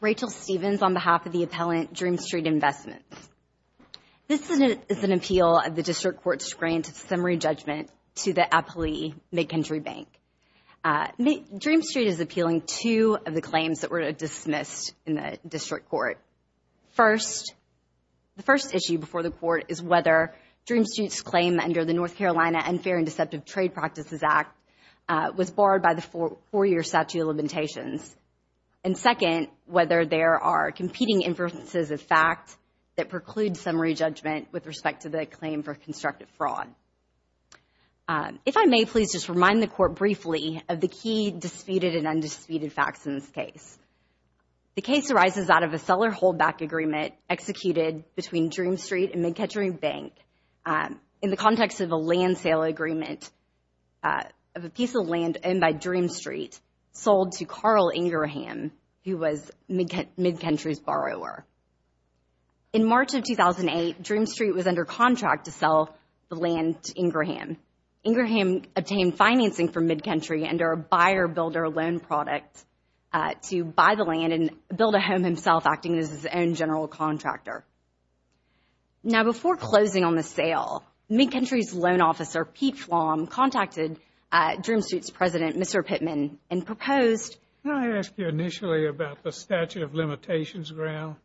Rachel Stevens, on behalf of the appellant Dreamstreet Investments, this is an appeal of the District Court's grant of summary judgment to the appellee, MidCountry Bank. Dreamstreet is appealing two of the claims that were dismissed in the District Court. First, the first issue before the Court is whether Dreamstreet's claim under the North Carolina Unfair and Deceptive Trade Practices Act was barred by the four-year statute of limitations, and second, whether there are competing inferences of fact that preclude summary judgment with respect to the claim for constructive fraud. If I may, please just remind the Court briefly of the key disputed and undisputed facts in this case. The case arises out of a seller holdback agreement executed between Dreamstreet and MidCountry Bank in the context of a land sale agreement of a piece of land owned by Dreamstreet sold to Carl Ingraham, who was MidCountry's under contract to sell the land to Ingraham. Ingraham obtained financing from MidCountry under a buyer-builder loan product to buy the land and build a home himself, acting as his own general contractor. Now, before closing on the sale, MidCountry's loan officer, Pete Flom, contacted Dreamstreet's president, Mr. Pittman, and proposed... Can I ask you initially about the statute of limitations, Graham?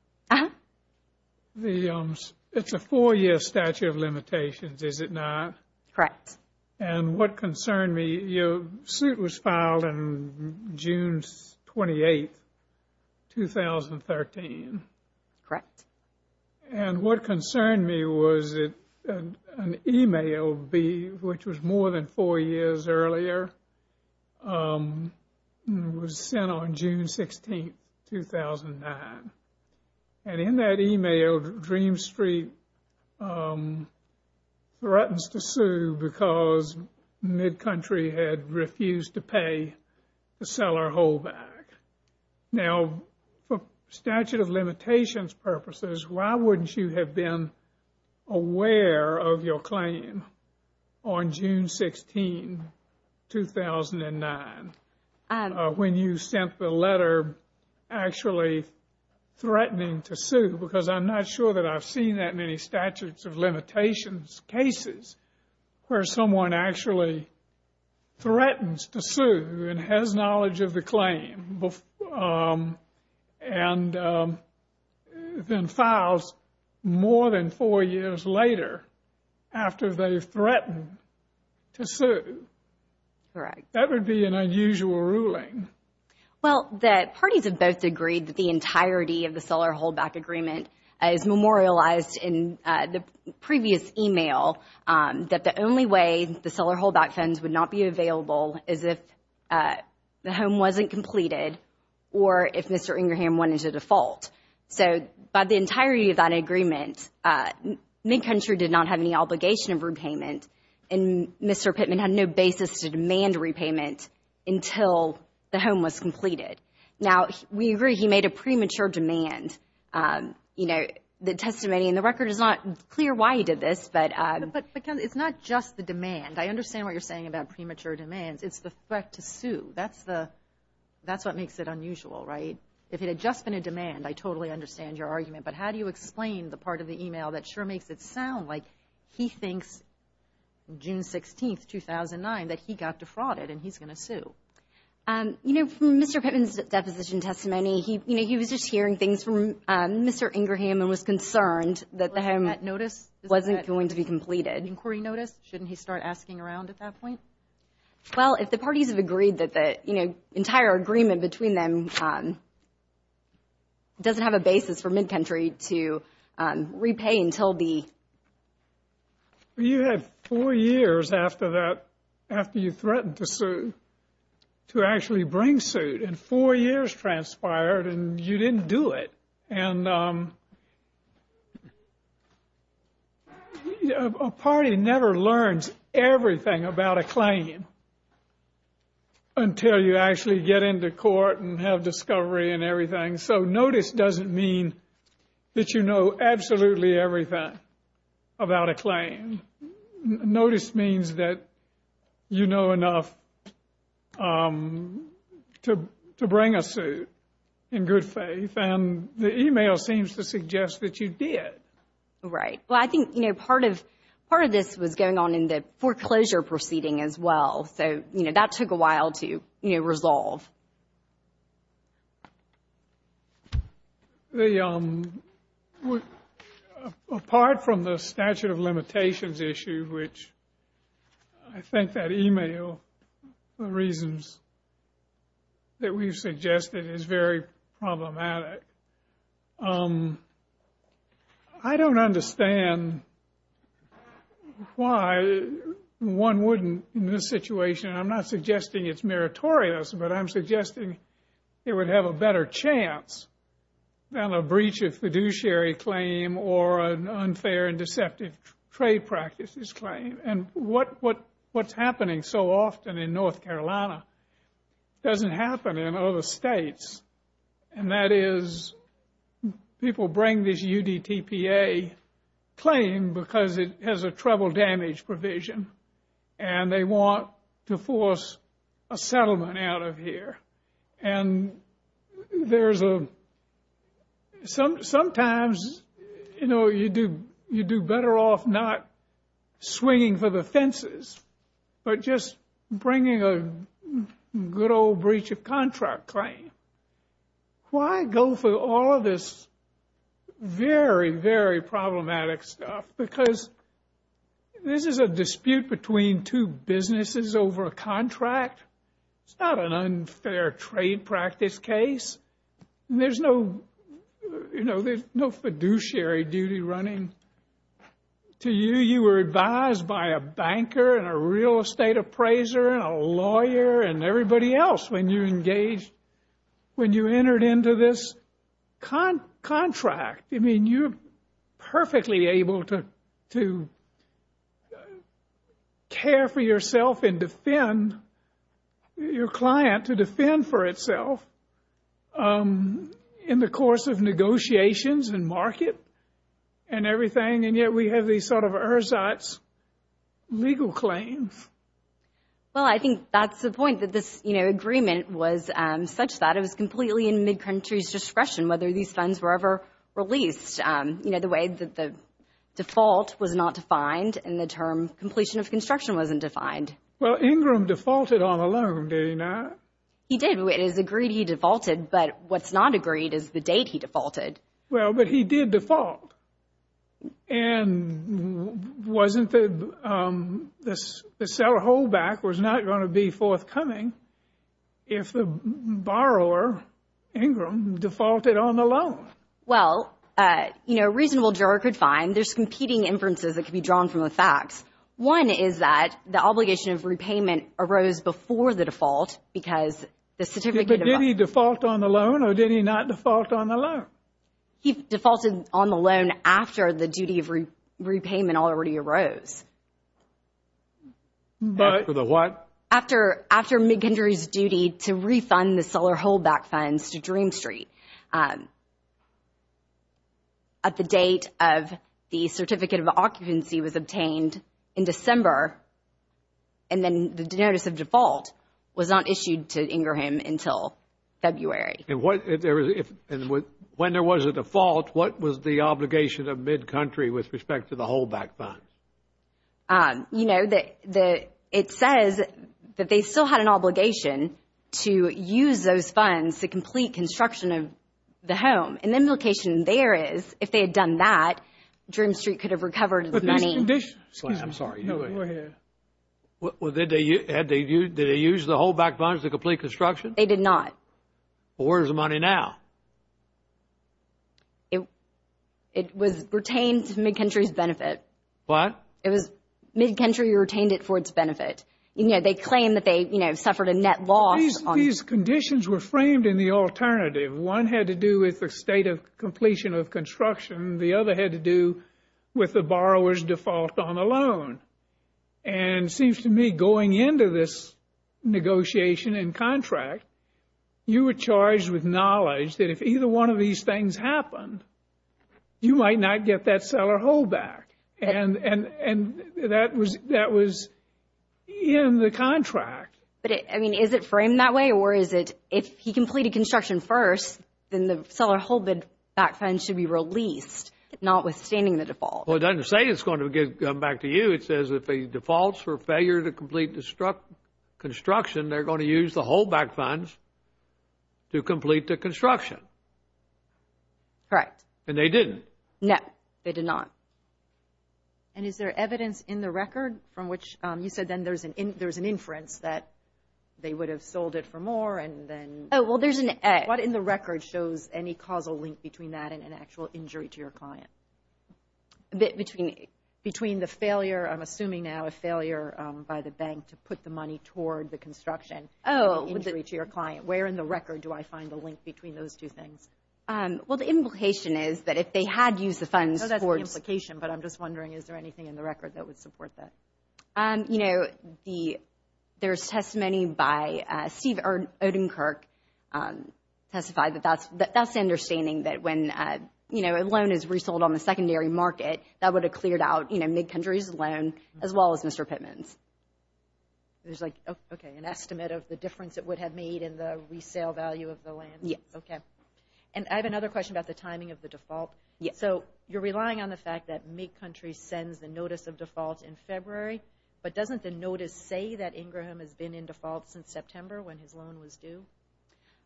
It's a four-year statute of limitations, is it not? Correct. And what concerned me, your suit was filed on June 28, 2013. Correct. And what concerned me was that an email, which was more than four years earlier, was sent on June 16, 2009. And in that email, Dreamstreet threatens to sue because MidCountry had refused to pay the seller holdback. Now, for statute of limitations purposes, why wouldn't you have been aware of your claim on June 16, 2009, when you sent the letter actually threatening to sue? Because I'm not sure that I've seen that many statutes of limitations cases where someone actually threatens to sue and has knowledge of the claim and then files more than four years later after they've threatened to sue. That would be an unusual ruling. Well, the parties have both agreed that the entirety of the seller holdback agreement is memorialized in the previous email that the only way the seller holdback funds would not be available is if the home wasn't completed or if Mr. Ingraham went into default. So, by the entirety of that agreement, MidCountry did not have any obligation of repayment and Mr. Pittman had no basis to demand repayment until the home was completed. Now, we agree he made a premature demand. You know, the testimony in the record is not clear why he did this, but... But it's not just the demand. I understand what you're saying about premature demands. It's the threat to sue. That's what makes it unusual, right? If it had just been a demand, I totally understand your argument. But how do you explain the part of the email that sure makes it sound like he thinks June 16, 2009, that he got defrauded and he's going to sue? You know, from Mr. Pittman's deposition testimony, you know, he was just hearing things from Mr. Ingraham and was concerned that the home wasn't going to be completed. Inquiry notice? Shouldn't he start asking around at that point? Well, if the parties have agreed that the, you know, entire agreement between them doesn't have a basis for MidCountry to repay until the... You had four years after that, after you threatened to sue, to actually bring suit, and four years transpired and you didn't do it. And a party never learns everything about a claim until you actually get into court and have discovery and everything. So notice doesn't mean that you know absolutely everything about a claim. Notice means that you know enough to bring a suit in good faith. And the email seems to suggest that you did. Right. Well, I think, you know, part of this was going on in the foreclosure proceeding as well. So, you know, that took a while to, you know, resolve. The... Apart from the statute of limitations issue, which I think that email, the reasons that we've suggested is very problematic. I don't understand why one wouldn't, in this situation, I'm not suggesting it's meritorious, but I'm suggesting it would have a better chance than a breach of fiduciary claim or an unfair and deceptive trade practices claim. And what's happening so often in North Carolina doesn't happen in other states. And that is people bring this UDTPA claim because it has a treble damage provision and they want to force a settlement out of here. And there's a... Sometimes, you know, you do better off not swinging for the fences, but just bringing a good old breach of contract claim. Why go through all of this very, very problematic stuff? Because this is a dispute between two businesses over a contract. It's not an unfair trade practice case. There's no, you know, there's no fiduciary duty running to you. You were advised by a banker and a real estate appraiser and a lawyer and everybody else when you engaged, when you entered into this contract. I mean, you're perfectly able to care for yourself and defend your client, to defend for itself in the course of negotiations and market and everything. And yet we have these sort of ersatz legal claims. Well, I think that's the point that this, you know, agreement was such that it was completely in mid-country's discretion whether these funds were ever released. You know, the way that the default was not defined and the term completion of construction wasn't defined. Well, Ingram defaulted on a loan, did he not? He did. It is agreed he defaulted. But what's not agreed is the date he defaulted. Well, but he did default. And wasn't the, the seller holdback was not going to be forthcoming if the borrower, Ingram, defaulted on the loan? Well, you know, a reasonable juror could find there's competing inferences that could be drawn from the facts. One is that the obligation of repayment arose before the default because the certificate of... He defaulted on the loan after the duty of repayment already arose. After the what? After, after mid-country's duty to refund the seller holdback funds to Dream Street. At the date of the certificate of occupancy was obtained in December, and then the notice of default was not issued to Ingram until February. And what, if there was, if, and when there was a default, what was the obligation of mid-country with respect to the holdback funds? You know, the, the, it says that they still had an obligation to use those funds to complete construction of the home. And the implication there is, if they had done that, Dream Street could have recovered the money. But Mr. Dish, excuse me. I'm sorry. No, go ahead. Well, did they, had they, did they use the holdback funds to complete construction? They did not. Well, where's the money now? It, it was retained to mid-country's benefit. What? It was, mid-country retained it for its benefit. You know, they claim that they, you know, suffered a net loss on... These conditions were framed in the alternative. One had to do with the state of completion of construction. And it seems to me, going into this negotiation and contract, you were charged with knowledge that if either one of these things happened, you might not get that seller holdback. And, and, and that was, that was in the contract. But it, I mean, is it framed that way? Or is it, if he completed construction first, then the seller holdback funds should be released, notwithstanding the default? Well, it doesn't say it's going to get back to you. It says if he defaults for failure to complete construction, they're going to use the holdback funds to complete the construction. Correct. And they didn't? No, they did not. And is there evidence in the record from which, you said then there's an, there's an inference that they would have sold it for more and then... Oh, well, there's an... What in the record shows any causal link between that and an actual injury to your client? Between... Between the failure, I'm assuming now a failure by the bank to put the money toward the construction injury to your client. Where in the record do I find the link between those two things? Well, the implication is that if they had used the funds for... No, that's the implication. But I'm just wondering, is there anything in the record that would support that? You know, the, there's testimony by Steve Odenkirk testified that that's, understanding that when, you know, a loan is resold on the secondary market, that would have cleared out, you know, MidCountry's loan as well as Mr. Pittman's. There's like, okay, an estimate of the difference it would have made in the resale value of the land? Yes. Okay. And I have another question about the timing of the default. Yes. So you're relying on the fact that MidCountry sends the notice of default in February, but doesn't the notice say that Ingraham has been in default since September when his loan was due?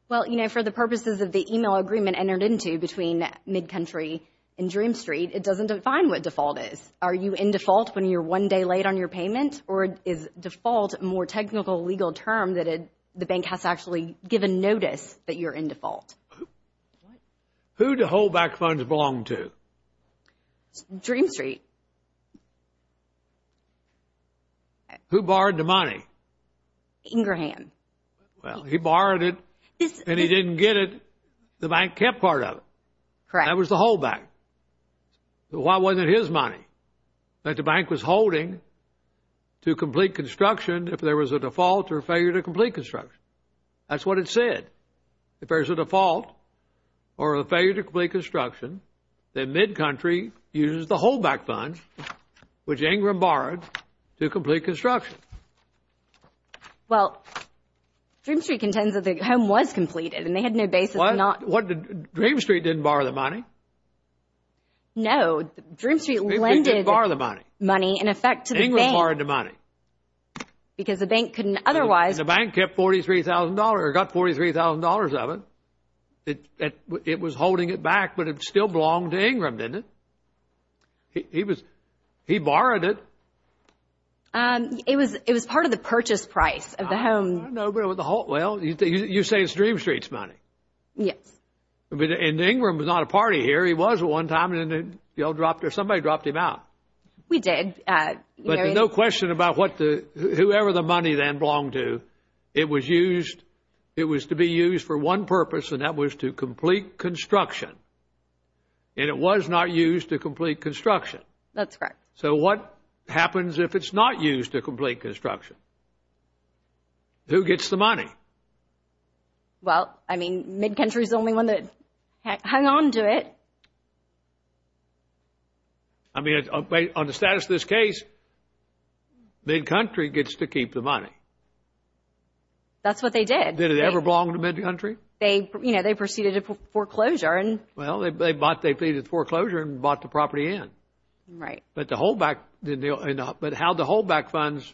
Well, you know, for the purposes of the email agreement entered into between MidCountry and Dream Street, it doesn't define what default is. Are you in default when you're one day late on your payment? Or is default a more technical legal term that it, the bank has to actually give a notice that you're in default? Who do hold back funds belong to? Dream Street. Who borrowed the money? Ingraham. Well, he borrowed it and he didn't get it. The bank kept part of it. Correct. That was the holdback. Why wasn't it his money that the bank was holding to complete construction if there was a default or failure to complete construction? That's what it said. If there's a default or a failure to complete construction, then MidCountry uses the holdback funds which Ingram borrowed to complete construction. Well, Dream Street contends that the home was completed and they had no basis. Well, Dream Street didn't borrow the money. No, Dream Street lended money in effect to the bank. Ingram borrowed the money. Because the bank couldn't otherwise. The bank kept $43,000 or got $43,000 of it. It was holding it back, but it still belonged to Ingram, didn't it? He was, he borrowed it. It was, it was part of the purchase price of the home. No, but with the whole, well, you say it's Dream Street's money. Yes. And Ingram was not a party here. He was at one time and then y'all dropped or somebody dropped him out. We did. But no question about what the, whoever the money then belonged to. It was used, it was to be used for one purpose and that was to complete construction. And it was not used to complete construction. That's correct. So what happens if it's not used to complete construction? Who gets the money? Well, I mean, MidCountry's the only one that hung on to it. I mean, on the status of this case, MidCountry gets to keep the money. That's what they did. Did it ever belong to MidCountry? They, you know, they proceeded to foreclosure and. Well, they bought, they pleaded foreclosure and bought the property in. Right. But the holdback, but how the holdback funds,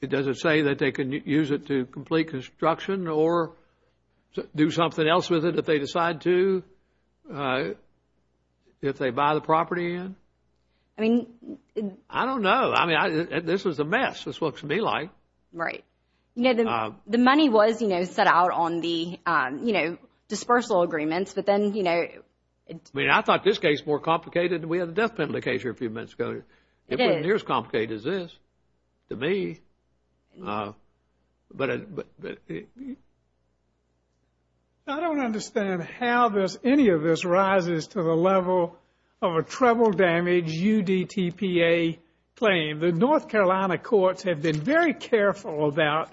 it doesn't say that they can use it to complete construction or do something else with it if they decide to, if they buy the property in. I mean. I don't know. I mean, this is a mess. This looks to me like. Right. You know, the money was, you know, set out on the, you know, dispersal agreements. But then, you know. I mean, I thought this case more complicated than we had the death of the case here a few minutes ago. It is. It wasn't near as complicated as this to me, but. I don't understand how this, any of this rises to the level of a treble damage UDTPA claim. The North Carolina courts have been very careful about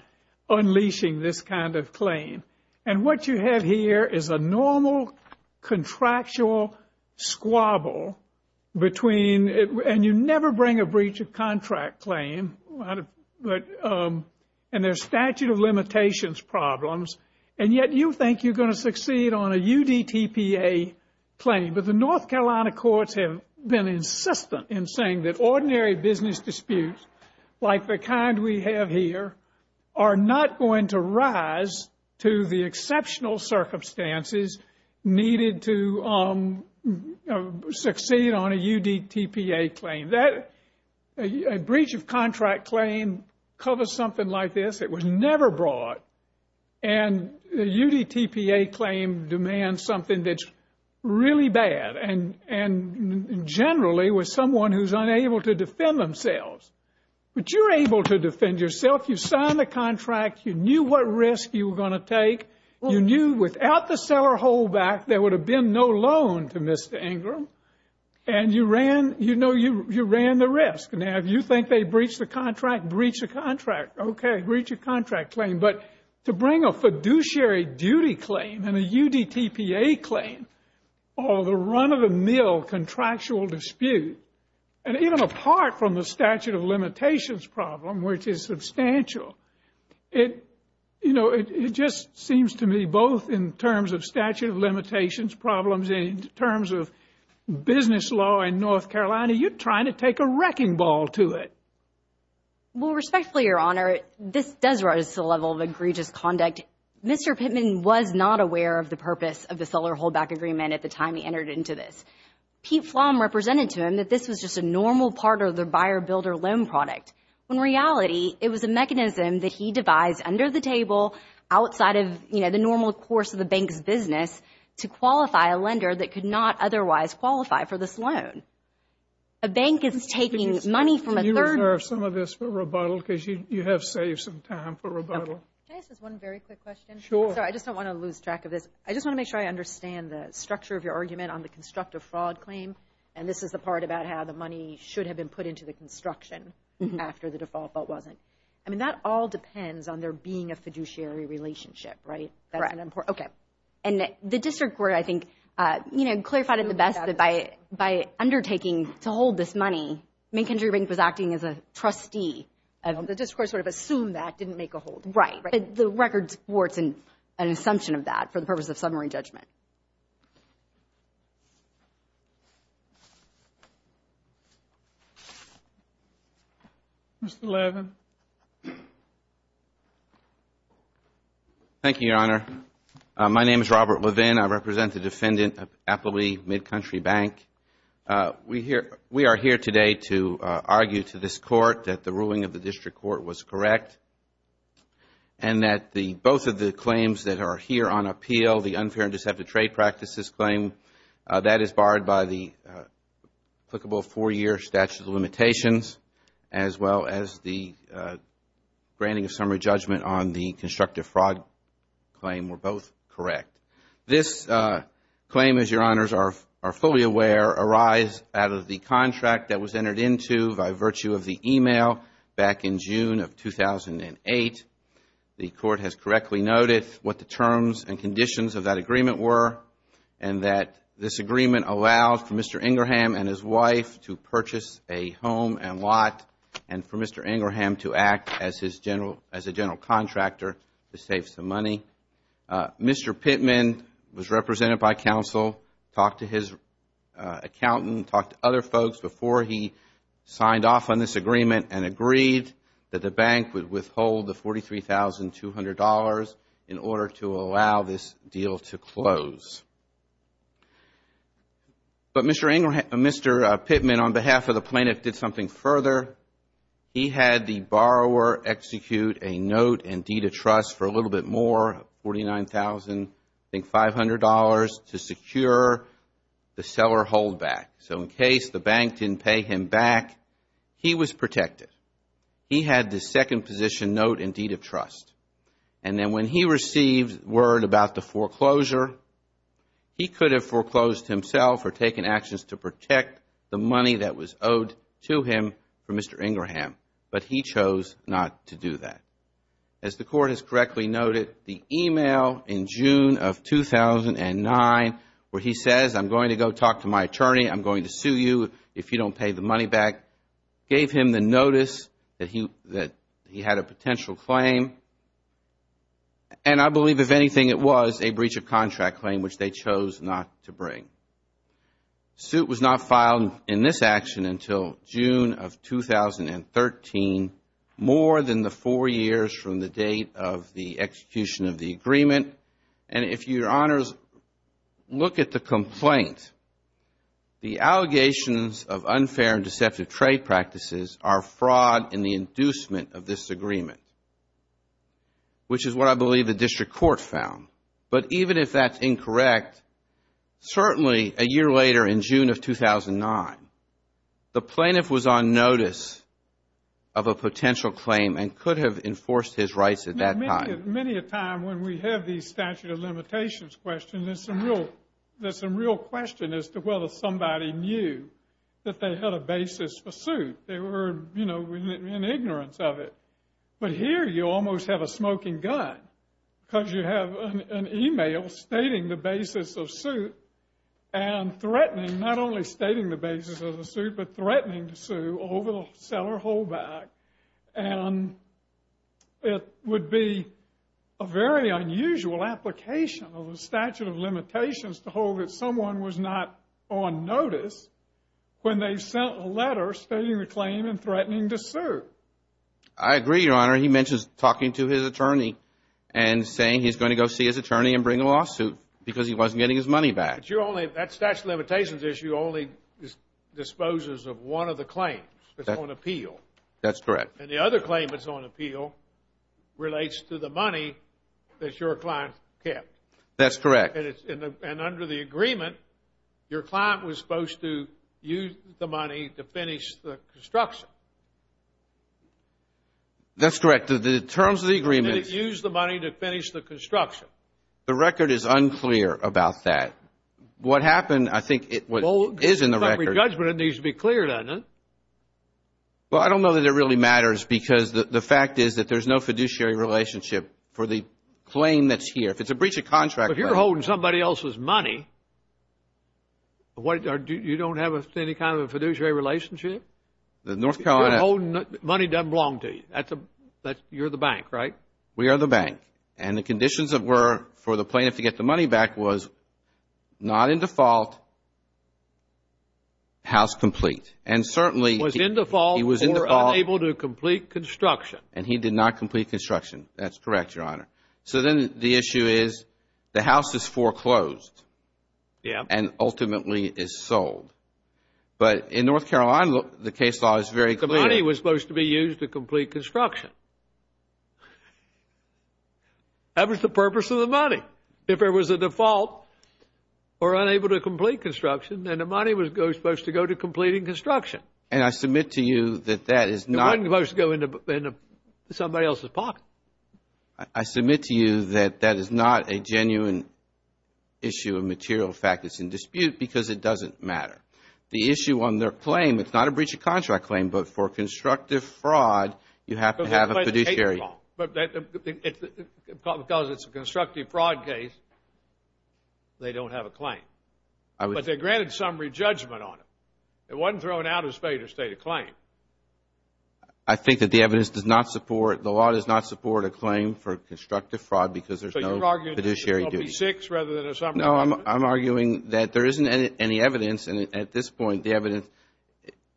unleashing this kind of claim. And what you have here is a normal contractual squabble between. And you never bring a breach of contract claim. And there's statute of limitations problems. And yet you think you're going to succeed on a UDTPA claim. But the North Carolina courts have been insistent in saying that ordinary business disputes, like the kind we have here, are not going to rise to the exceptional circumstances needed to succeed on a UDTPA claim. That breach of contract claim covers something like this. It was never brought. And the UDTPA claim demands something that's really bad. And generally with someone who's unable to defend themselves. But you're able to defend yourself. You signed the contract. You knew what risk you were going to take. You knew without the seller hold back, there would have been no loan to Mr. Ingram. And you ran, you know, you ran the risk. Now, if you think they breached the contract, breach of contract. OK, breach of contract claim. But to bring a fiduciary duty claim and a UDTPA claim. Or the run of the mill contractual dispute. And even apart from the statute of limitations problem, which is substantial. It, you know, it just seems to me both in terms of statute of limitations problems, in terms of business law in North Carolina, you're trying to take a wrecking ball to it. Well, respectfully, Your Honor, this does rise to the level of egregious conduct. Mr. Pittman was not aware of the purpose of the seller hold back agreement at the time he entered into this. Pete Flom represented to him that this was just a normal part of the buyer builder loan product. When in reality, it was a mechanism that he devised under the table, outside of, you know, the normal course of the bank's business, to qualify a lender that could not otherwise qualify for this loan. A bank is taking money from a third- Can you refer some of this for rebuttal? Because you have saved some time for rebuttal. Can I ask just one very quick question? Sure. Sorry, I just don't want to lose track of this. I just want to make sure I understand the structure of your argument on the constructive fraud claim. And this is the part about how the money should have been put into the construction after the default, but wasn't. I mean, that all depends on there being a fiduciary relationship, right? Correct. Okay. And the district court, I think, you know, clarified it the best that by undertaking to hold this money, Main Country Bank was acting as a trustee. The district court sort of assumed that, didn't make a hold. The records were an assumption of that for the purpose of summary judgment. Mr. Levin. Thank you, Your Honor. My name is Robert Levin. I represent the defendant of Appleby Mid-Country Bank. We are here today to argue to this court that the ruling of the district court was correct. And that both of the claims that are here on appeal, the unfair and deceptive trade practices claim, that is barred by the applicable four-year statute of limitations, as well as the granting of summary judgment on the constructive fraud claim were both correct. This claim, as Your Honors are fully aware, arise out of the contract that was entered into by virtue of the email back in June of 2008. The court has correctly noted what the terms and conditions of that agreement were and that this agreement allowed for Mr. Ingerham and his wife to purchase a home and lot and for Mr. Ingerham to act as a general contractor to save some money. Mr. Pittman was represented by counsel, talked to his accountant, talked to other folks before he signed off on this agreement and agreed that the bank would withhold the $43,200 in order to allow this deal to close. But Mr. Pittman, on behalf of the plaintiff, did something further. He had the borrower execute a note and deed of trust for a little bit more, $49,500, to secure the seller holdback. So in case the bank didn't pay him back, he was protected. He had the second position note and deed of trust. And then when he received word about the foreclosure, he could have foreclosed himself or taken actions to protect the money that was owed to him from Mr. Ingerham. But he chose not to do that. As the court has correctly noted, the email in June of 2009 where he says, I'm going to talk to my attorney, I'm going to sue you if you don't pay the money back, gave him the notice that he had a potential claim. And I believe, if anything, it was a breach of contract claim which they chose not to bring. Suit was not filed in this action until June of 2013, more than the four years from the date of the execution of the agreement. And if Your Honors look at the complaint, the allegations of unfair and deceptive trade practices are fraud in the inducement of this agreement, which is what I believe the district court found. But even if that's incorrect, certainly a year later in June of 2009, the plaintiff was on notice of a potential claim and could have enforced his rights at that time. Many a time when we have these statute of limitations questions, there's some real question as to whether somebody knew that they had a basis for suit. They were, you know, in ignorance of it. But here you almost have a smoking gun because you have an email stating the basis of suit and threatening, not only stating the basis of the suit, but threatening to sue over the seller hold back. And it would be a very unusual application of the statute of limitations to hold that someone was not on notice when they sent a letter stating the claim and threatening to I agree, Your Honor. He mentions talking to his attorney and saying he's going to go see his attorney and bring a lawsuit because he wasn't getting his money back. But that statute of limitations issue only disposes of one of the claims. It's on appeal. That's correct. And the other claim that's on appeal relates to the money that your client kept. That's correct. And under the agreement, your client was supposed to use the money to finish the construction. That's correct. The terms of the agreement. Did it use the money to finish the construction? The record is unclear about that. What happened, I think, is in the record. Judgment needs to be cleared on it. Well, I don't know that it really matters because the fact is that there's no fiduciary relationship for the claim that's here. If it's a breach of contract. If you're holding somebody else's money, you don't have any kind of a fiduciary relationship? Money doesn't belong to you. You're the bank, right? We are the bank. And the conditions that were for the plaintiff to get the money back was not in default, house complete. And certainly he was in default or unable to complete construction. And he did not complete construction. That's correct, Your Honor. So then the issue is the house is foreclosed and ultimately is sold. But in North Carolina, the case law is very clear. The money was supposed to be used to complete construction. That was the purpose of the money. If there was a default or unable to complete construction, then the money was supposed to go to completing construction. And I submit to you that that is not. It wasn't supposed to go into somebody else's pocket. I submit to you that that is not a genuine issue of material fact that's in dispute because it doesn't matter. The issue on their claim, it's not a breach of contract claim, but for constructive fraud, you have to have a fiduciary. But they're granted summary judgment on it. It wasn't thrown out as fate or state of claim. I think that the evidence does not support, the law does not support a claim for constructive fraud because there's no fiduciary duty. So you're arguing that there will be six rather than a summary? No, I'm arguing that there isn't any evidence. And at this point, the evidence,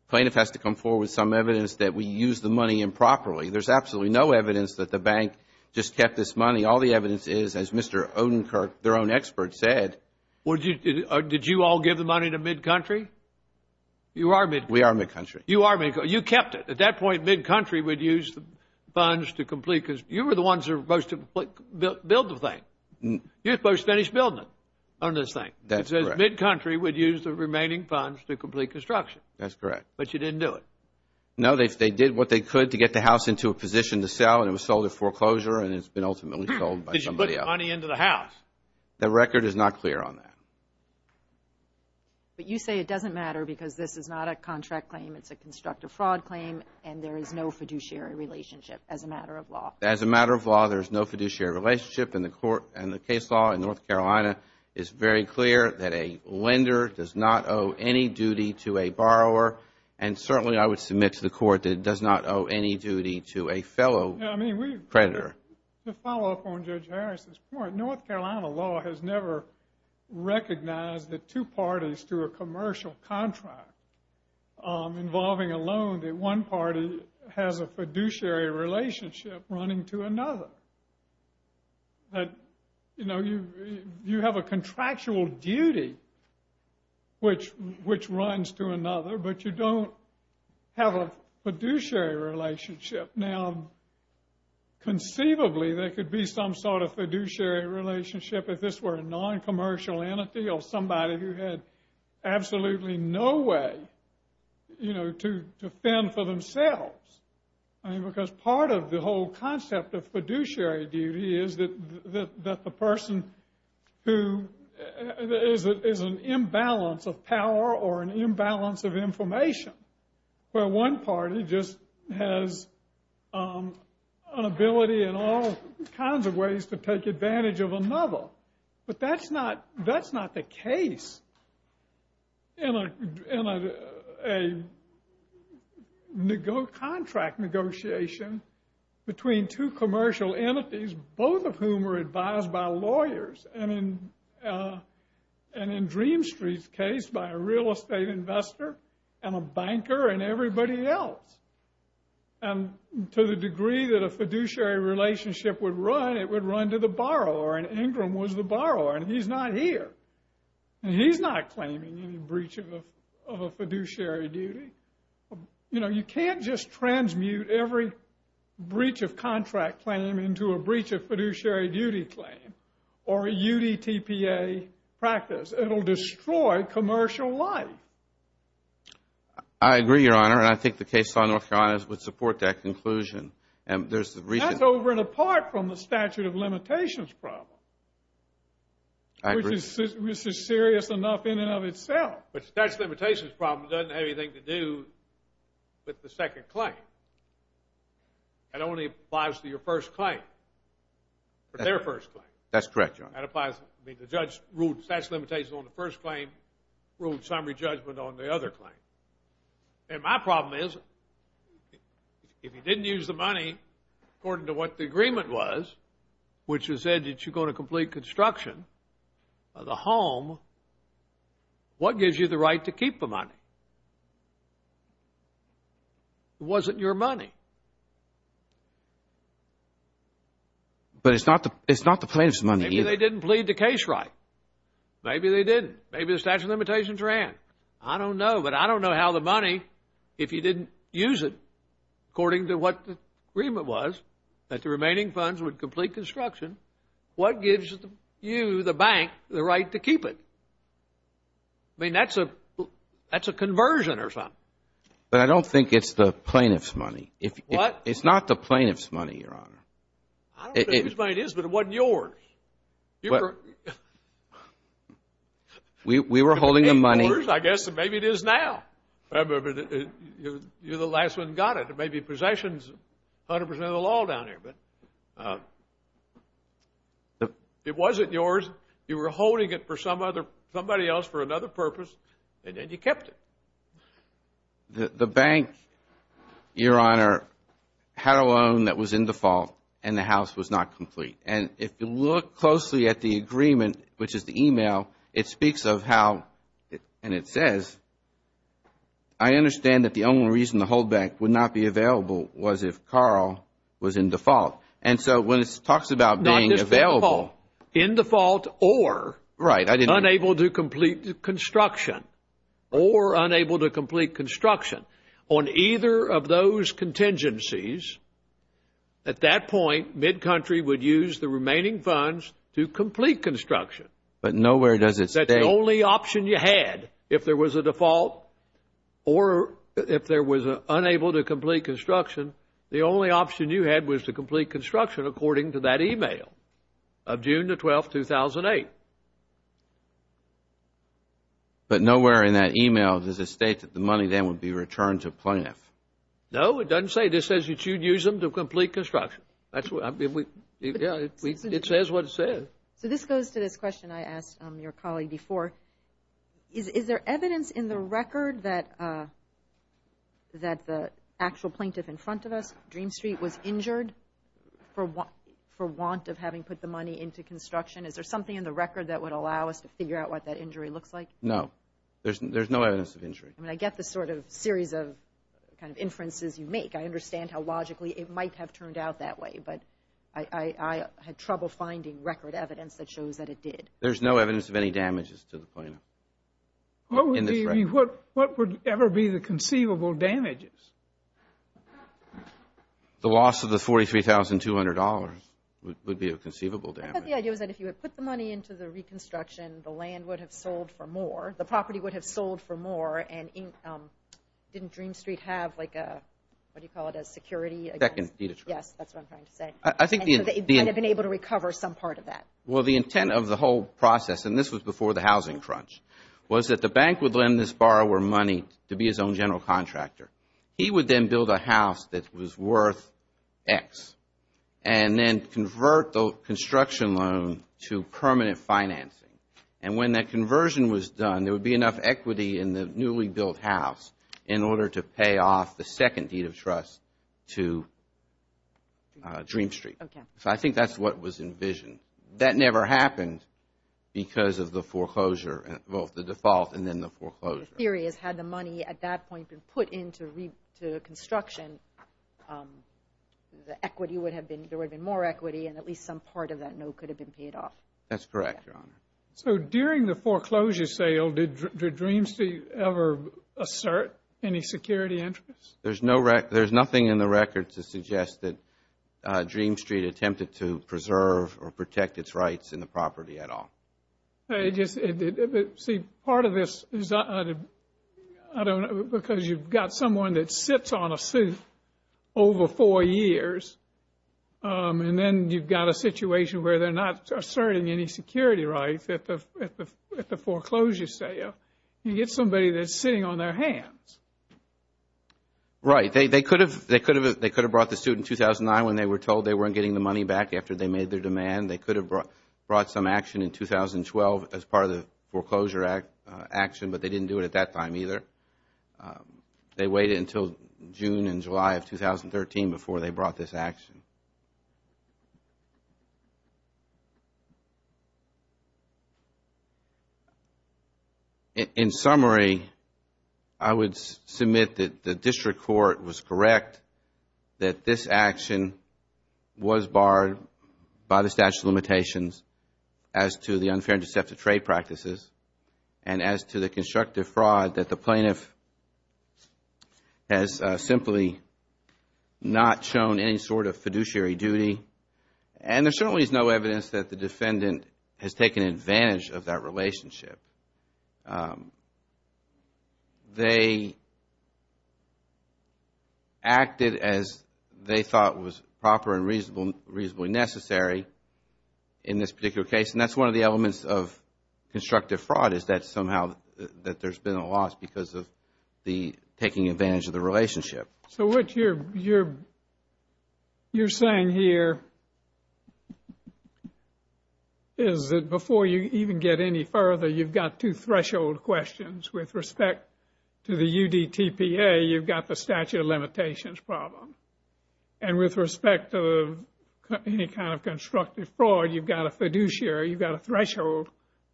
plaintiff has to come forward with some evidence that we used the money improperly. There's absolutely no evidence that the bank just kept this money. All the evidence is, as Mr. Odenkirk, their own expert, said. Would you, did you all give the money to MidCountry? You are MidCountry. We are MidCountry. You are MidCountry. You kept it. At that point, MidCountry would use the funds to complete, because you were the ones who were supposed to build the thing. You're supposed to finish building it on this thing. That's correct. MidCountry would use the remaining funds to complete construction. That's correct. But you didn't do it. No, they did what they could to get the house into a position to sell and it was sold at foreclosure and it's been ultimately sold by somebody else. Did you put the money into the house? The record is not clear on that. But you say it doesn't matter because this is not a contract claim. It's a constructive fraud claim and there is no fiduciary relationship as a matter of law. As a matter of law, there's no fiduciary relationship and the court and the case law in North Carolina is very clear that a lender does not owe any duty to a borrower and certainly I would submit to the court that it does not owe any duty to a fellow creditor. To follow up on Judge Harris' point, North Carolina law has never recognized that two parties to a commercial contract involving a loan that one party has a fiduciary relationship running to another. You have a contractual duty which runs to another but you don't have a fiduciary relationship. Now, conceivably, there could be some sort of fiduciary relationship if this were a non-commercial entity or somebody who had absolutely no way to fend for themselves because part of the whole concept of fiduciary duty is that the person who is an imbalance of power or an inability in all kinds of ways to take advantage of another. But that's not the case in a contract negotiation between two commercial entities, both of whom were advised by lawyers and in Dream Street's case by a real estate investor and a banker and everybody else. And to the degree that a fiduciary relationship would run, it would run to the borrower and Ingram was the borrower and he's not here and he's not claiming any breach of a fiduciary duty. You know, you can't just transmute every breach of contract claim into a breach of fiduciary duty claim or a UDTPA practice. It'll destroy commercial life. I agree, Your Honor, and I think the case on North Carolina would support that conclusion. That's over and apart from the statute of limitations problem, which is serious enough in and of itself. But the statute of limitations problem doesn't have anything to do with the second claim. It only applies to your first claim, their first claim. That's correct, Your Honor. I mean, the judge ruled the statute of limitations on the first claim, ruled summary judgment on the other claim. And my problem is, if you didn't use the money according to what the agreement was, which said that you're going to complete construction of the home, what gives you the right to keep the money? It wasn't your money. But it's not the plaintiff's money either. Maybe they didn't plead the case right. Maybe they didn't. Maybe the statute of limitations ran. I don't know, but I don't know how the money, if you didn't use it according to what the agreement was, that the remaining funds would complete construction, what gives you, the bank, the right to keep it? I mean, that's a conversion or something. But I don't think it's the plaintiff's money. It's not the plaintiff's money, Your Honor. I don't know whose money it is, but it wasn't yours. But we were holding the money. I guess maybe it is now. You're the last one who got it. It may be possessions, 100 percent of the law down here. But it wasn't yours. You were holding it for somebody else for another purpose, and then you kept it. The bank, Your Honor, had a loan that was in default, and the house was not complete. And if you look closely at the agreement, which is the email, it speaks of how, and it says, I understand that the only reason the whole bank would not be available was if Carl was in default. And so when it talks about being available. In default or unable to complete construction, or unable to complete construction. On either of those contingencies, at that point, MidCountry would use the remaining funds to complete construction. But nowhere does it say. That's the only option you had. If there was a default or if there was unable to complete construction, the only option you had was to complete construction, according to that email of June the 12th, 2008. But nowhere in that email does it state that the money then would be returned to plaintiff. No, it doesn't say. It says you should use them to complete construction. That's what, I mean, we, yeah, it says what it says. So this goes to this question I asked your colleague before. Is there evidence in the record that the actual plaintiff in front of us, Dream Street, was injured for want of having put the money into construction? Is there something in the record that you can say that's true? Is there something in the record that would allow us to figure out what that injury looks like? No, there's no evidence of injury. I mean, I get the sort of series of kind of inferences you make. I understand how logically it might have turned out that way. But I had trouble finding record evidence that shows that it did. There's no evidence of any damages to the plaintiff in this record. What would ever be the conceivable damages? The loss of the $43,200 would be a conceivable damage. But the idea was that if you had put the money into the reconstruction, the land would have sold for more, the property would have sold for more, and didn't Dream Street have like a, what do you call it, a security? Second, deed of trust. Yes, that's what I'm trying to say. And so they might have been able to recover some part of that. Well, the intent of the whole process, and this was before the housing crunch, was that the bank would lend this borrower money to be his own general contractor. He would then build a house that was worth X and then convert the construction loan to permanent financing. And when that conversion was done, there would be enough equity in the newly built house in order to pay off the second deed of trust to Dream Street. Okay. So I think that's what was envisioned. That never happened because of the foreclosure, both the default and then the foreclosure. The theory is had the money at that point been put into reconstruction, the equity would have been, there would have been more equity and at least some part of that note could have been paid off. That's correct, Your Honor. So during the foreclosure sale, did Dream Street ever assert any security interests? There's no record, there's nothing in the record to suggest that Dream Street attempted to preserve or protect its rights in the property at all. It just, see, part of this is, I don't know, because you've got someone that sits on a suit over four years and then you've got a situation where they're not asserting any security rights at the foreclosure sale. You get somebody that's sitting on their hands. Right. They could have brought the suit in 2009 when they were told they weren't getting the money back after they made their demand. They could have brought some action in 2012 as part of the foreclosure action, but they didn't do it at that time either. They waited until June and July of 2013 before they brought this action. In summary, I would submit that the District Court was correct that this action was barred by the statute of limitations as to the unfair and deceptive trade practices and as to the constructive fraud that the plaintiff has simply not shown any sort of fiduciary duty. And there certainly is no evidence that the defendant has taken advantage of that relationship. They acted as they thought was proper and reasonably necessary in this particular case and that's one of the elements of constructive fraud is that somehow that there's been a loss because of the taking advantage of the relationship. So what you're saying here is that before you even get any further, you've got to threshold questions with respect to the UDTPA, you've got the statute of limitations problem. And with respect to any kind of constructive fraud, you've got a fiduciary, you've got a threshold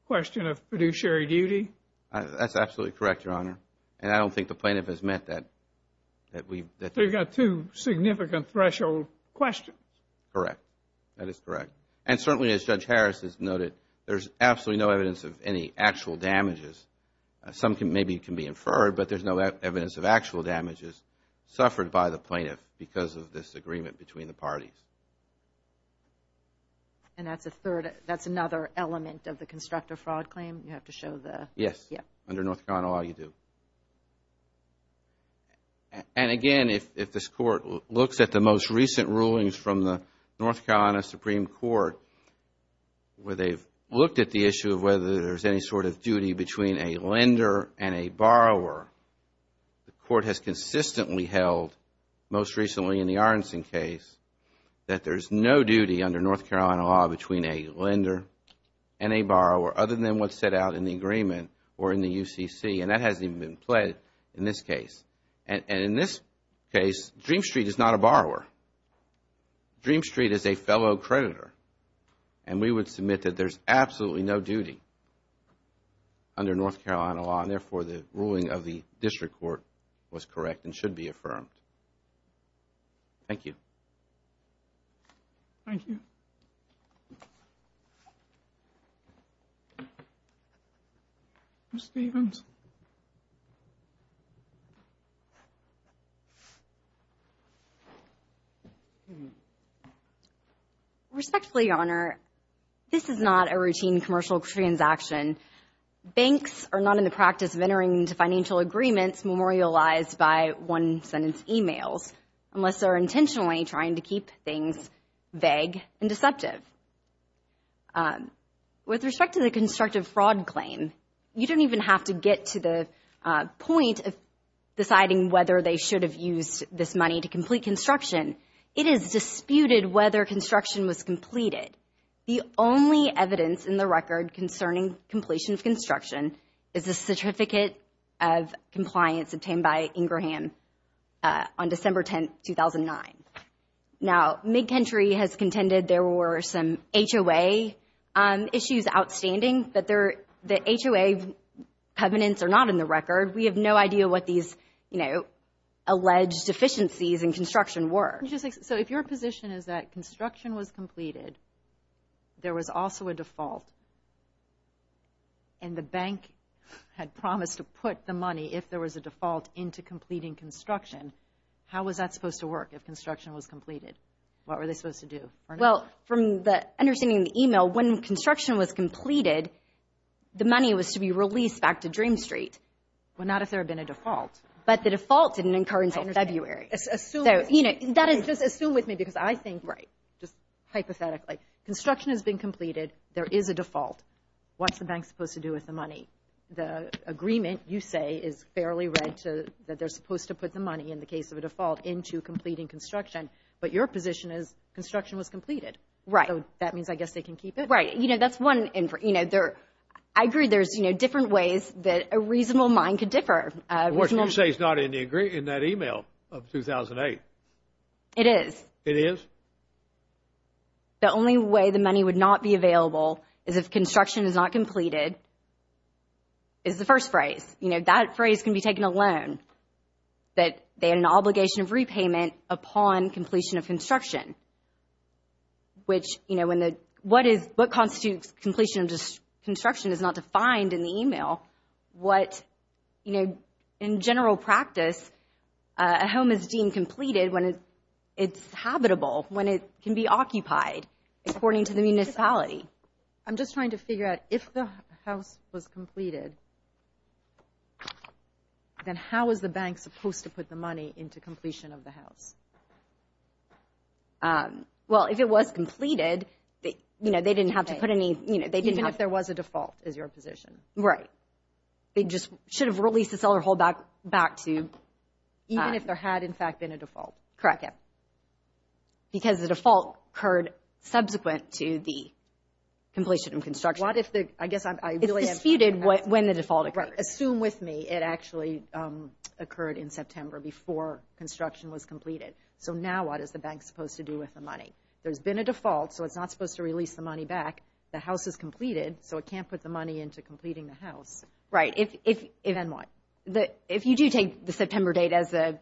question of fiduciary duty? That's absolutely correct, Your Honor. And I don't think the plaintiff has meant that. They've got two significant threshold questions. Correct. That is correct. And certainly, as Judge Harris has noted, there's absolutely no evidence of any actual damages. Some maybe can be inferred, but there's no evidence of actual damages suffered by the plaintiff because of this agreement between the parties. And that's a third, that's another element of the constructive fraud claim? You have to show the... Yes. Under North Carolina law, you do. And again, if this Court looks at the most recent rulings from the North Carolina Supreme Court, where they've looked at the issue of whether there's any sort of duty between a lender and a borrower, the Court has consistently held, most recently in the Arnson case, that there's no duty under North Carolina law between a lender and a borrower, other than what's set out in the agreement or in the UCC. And that hasn't even been pledged in this case. And in this case, Dream Street is not a borrower. Dream Street is a fellow creditor. And we would submit that there's absolutely no duty under North Carolina law, and therefore the ruling of the District Court was correct and should be affirmed. Thank you. Thank you. Ms. Stevens? Respectfully, Your Honor, this is not a routine commercial transaction. Banks are not in the practice of entering into financial agreements memorialized by emails unless they're intentionally trying to keep things vague and deceptive. With respect to the constructive fraud claim, you don't even have to get to the point of deciding whether they should have used this money to complete construction. It is disputed whether construction was completed. The only evidence in the record concerning completion of construction is a certificate of compliance obtained by Ingraham on December 10, 2009. Now, MidCountry has contended there were some HOA issues outstanding, but the HOA covenants are not in the record. We have no idea what these, you know, alleged deficiencies in construction were. So if your position is that construction was completed, there was also a default, and the bank had promised to put the money, if there was a default, into completing construction, how was that supposed to work if construction was completed? What were they supposed to do? Well, from the understanding of the email, when construction was completed, the money was to be released back to Dream Street. Well, not if there had been a default. But the default didn't occur until February. So, you know, that is... Just assume with me, because I think, right, just hypothetically, construction has been completed. There is a default. What's the bank supposed to do with the money? The agreement, you say, is fairly read to that they're supposed to put the money, in the case of a default, into completing construction. But your position is construction was completed. Right. That means, I guess, they can keep it. You know, that's one, you know, I agree there's, you know, different ways that a reasonable mind could differ. What you say is not in that email of 2008. It is. It is? So, the only way the money would not be available is if construction is not completed, is the first phrase. You know, that phrase can be taken alone. That they had an obligation of repayment upon completion of construction. Which, you know, when the... What constitutes completion of construction is not defined in the email. What, you know, in general practice, a home is deemed completed when it's habitable, when it can be occupied, according to the municipality. I'm just trying to figure out, if the house was completed, then how is the bank supposed to put the money into completion of the house? Well, if it was completed, you know, they didn't have to put any, you know... Even if there was a default, is your position. Right. They just should have released the seller hold back to... Even if there had, in fact, been a default. Correct. Because the default occurred subsequent to the completion of construction. What if the... I guess I'm... It's disputed when the default occurred. Assume with me it actually occurred in September before construction was completed. So now what is the bank supposed to do with the money? There's been a default, so it's not supposed to release the money back. The house is completed, so it can't put the money into completing the house. Right. If... Then what? If you do take the September date as the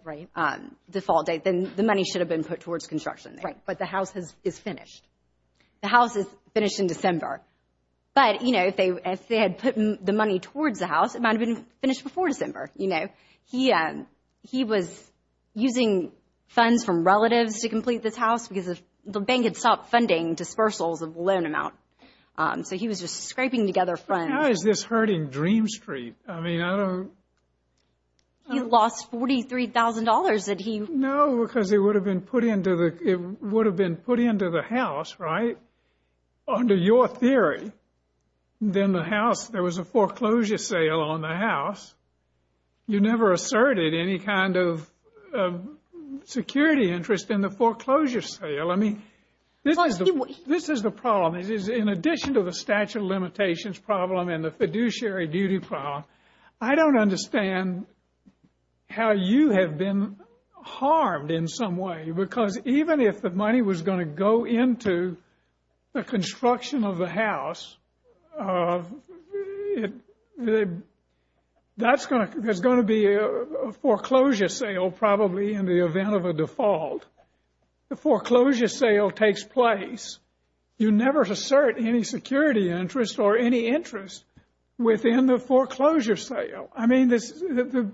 default date, then the money should have been put towards construction. Right. But the house is finished. The house is finished in December. But, you know, if they had put the money towards the house, it might have been finished before December. You know, he was using funds from relatives to complete this house because the bank had stopped funding dispersals of loan amount. So he was just scraping together funds. How is this hurting Dream Street? I mean, I don't... He lost $43,000 that he... No, because it would have been put into the... It would have been put into the house, right, under your theory. Then the house... There was a foreclosure sale on the house. You never asserted any kind of security interest in the foreclosure sale. I mean, this is the problem. It is, in addition to the statute of limitations problem and the fiduciary duty problem, I don't understand how you have been harmed in some way. Because even if the money was going to go into the construction of the house, there's going to be a foreclosure sale, probably, in the event of a default. The foreclosure sale takes place. You never assert any security interest or any interest within the foreclosure sale. I mean, the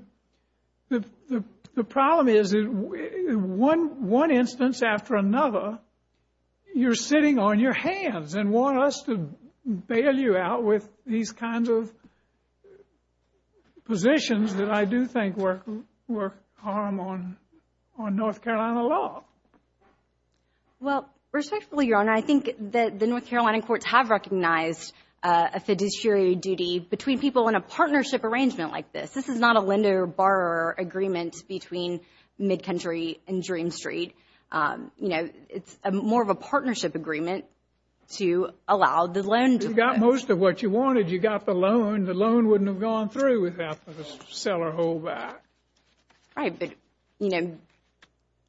problem is, in one instance after another, you're sitting on your hands and want us to bail you out with these kinds of positions that I do think were harm on North Carolina law. Well, respectfully, Your Honor, I think that the North Carolina courts have recognized a fiduciary duty between people in a partnership arrangement like this. This is not a lender-borrower agreement between MidCountry and Dream Street. It's more of a partnership agreement to allow the loan to... If you got most of what you wanted, you got the loan. The loan wouldn't have gone through without the seller hold back. Right, but, you know,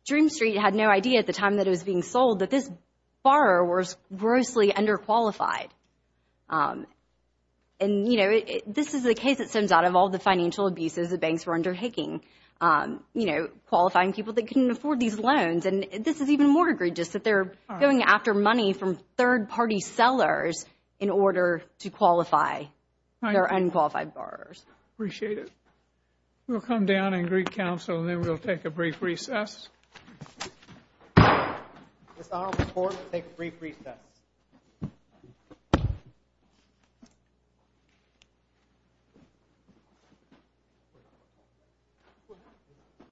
Dream Street had no idea at the time that it was being sold that this borrower was grossly underqualified. And, you know, this is the case that stems out of all the financial abuses the banks were undertaking, you know, qualifying people that couldn't afford these loans. And this is even more egregious that they're going after money from third-party sellers in order to qualify their unqualified borrowers. Appreciate it. We'll come down and greet counsel, and then we'll take a brief recess. This honorable court will take a brief recess.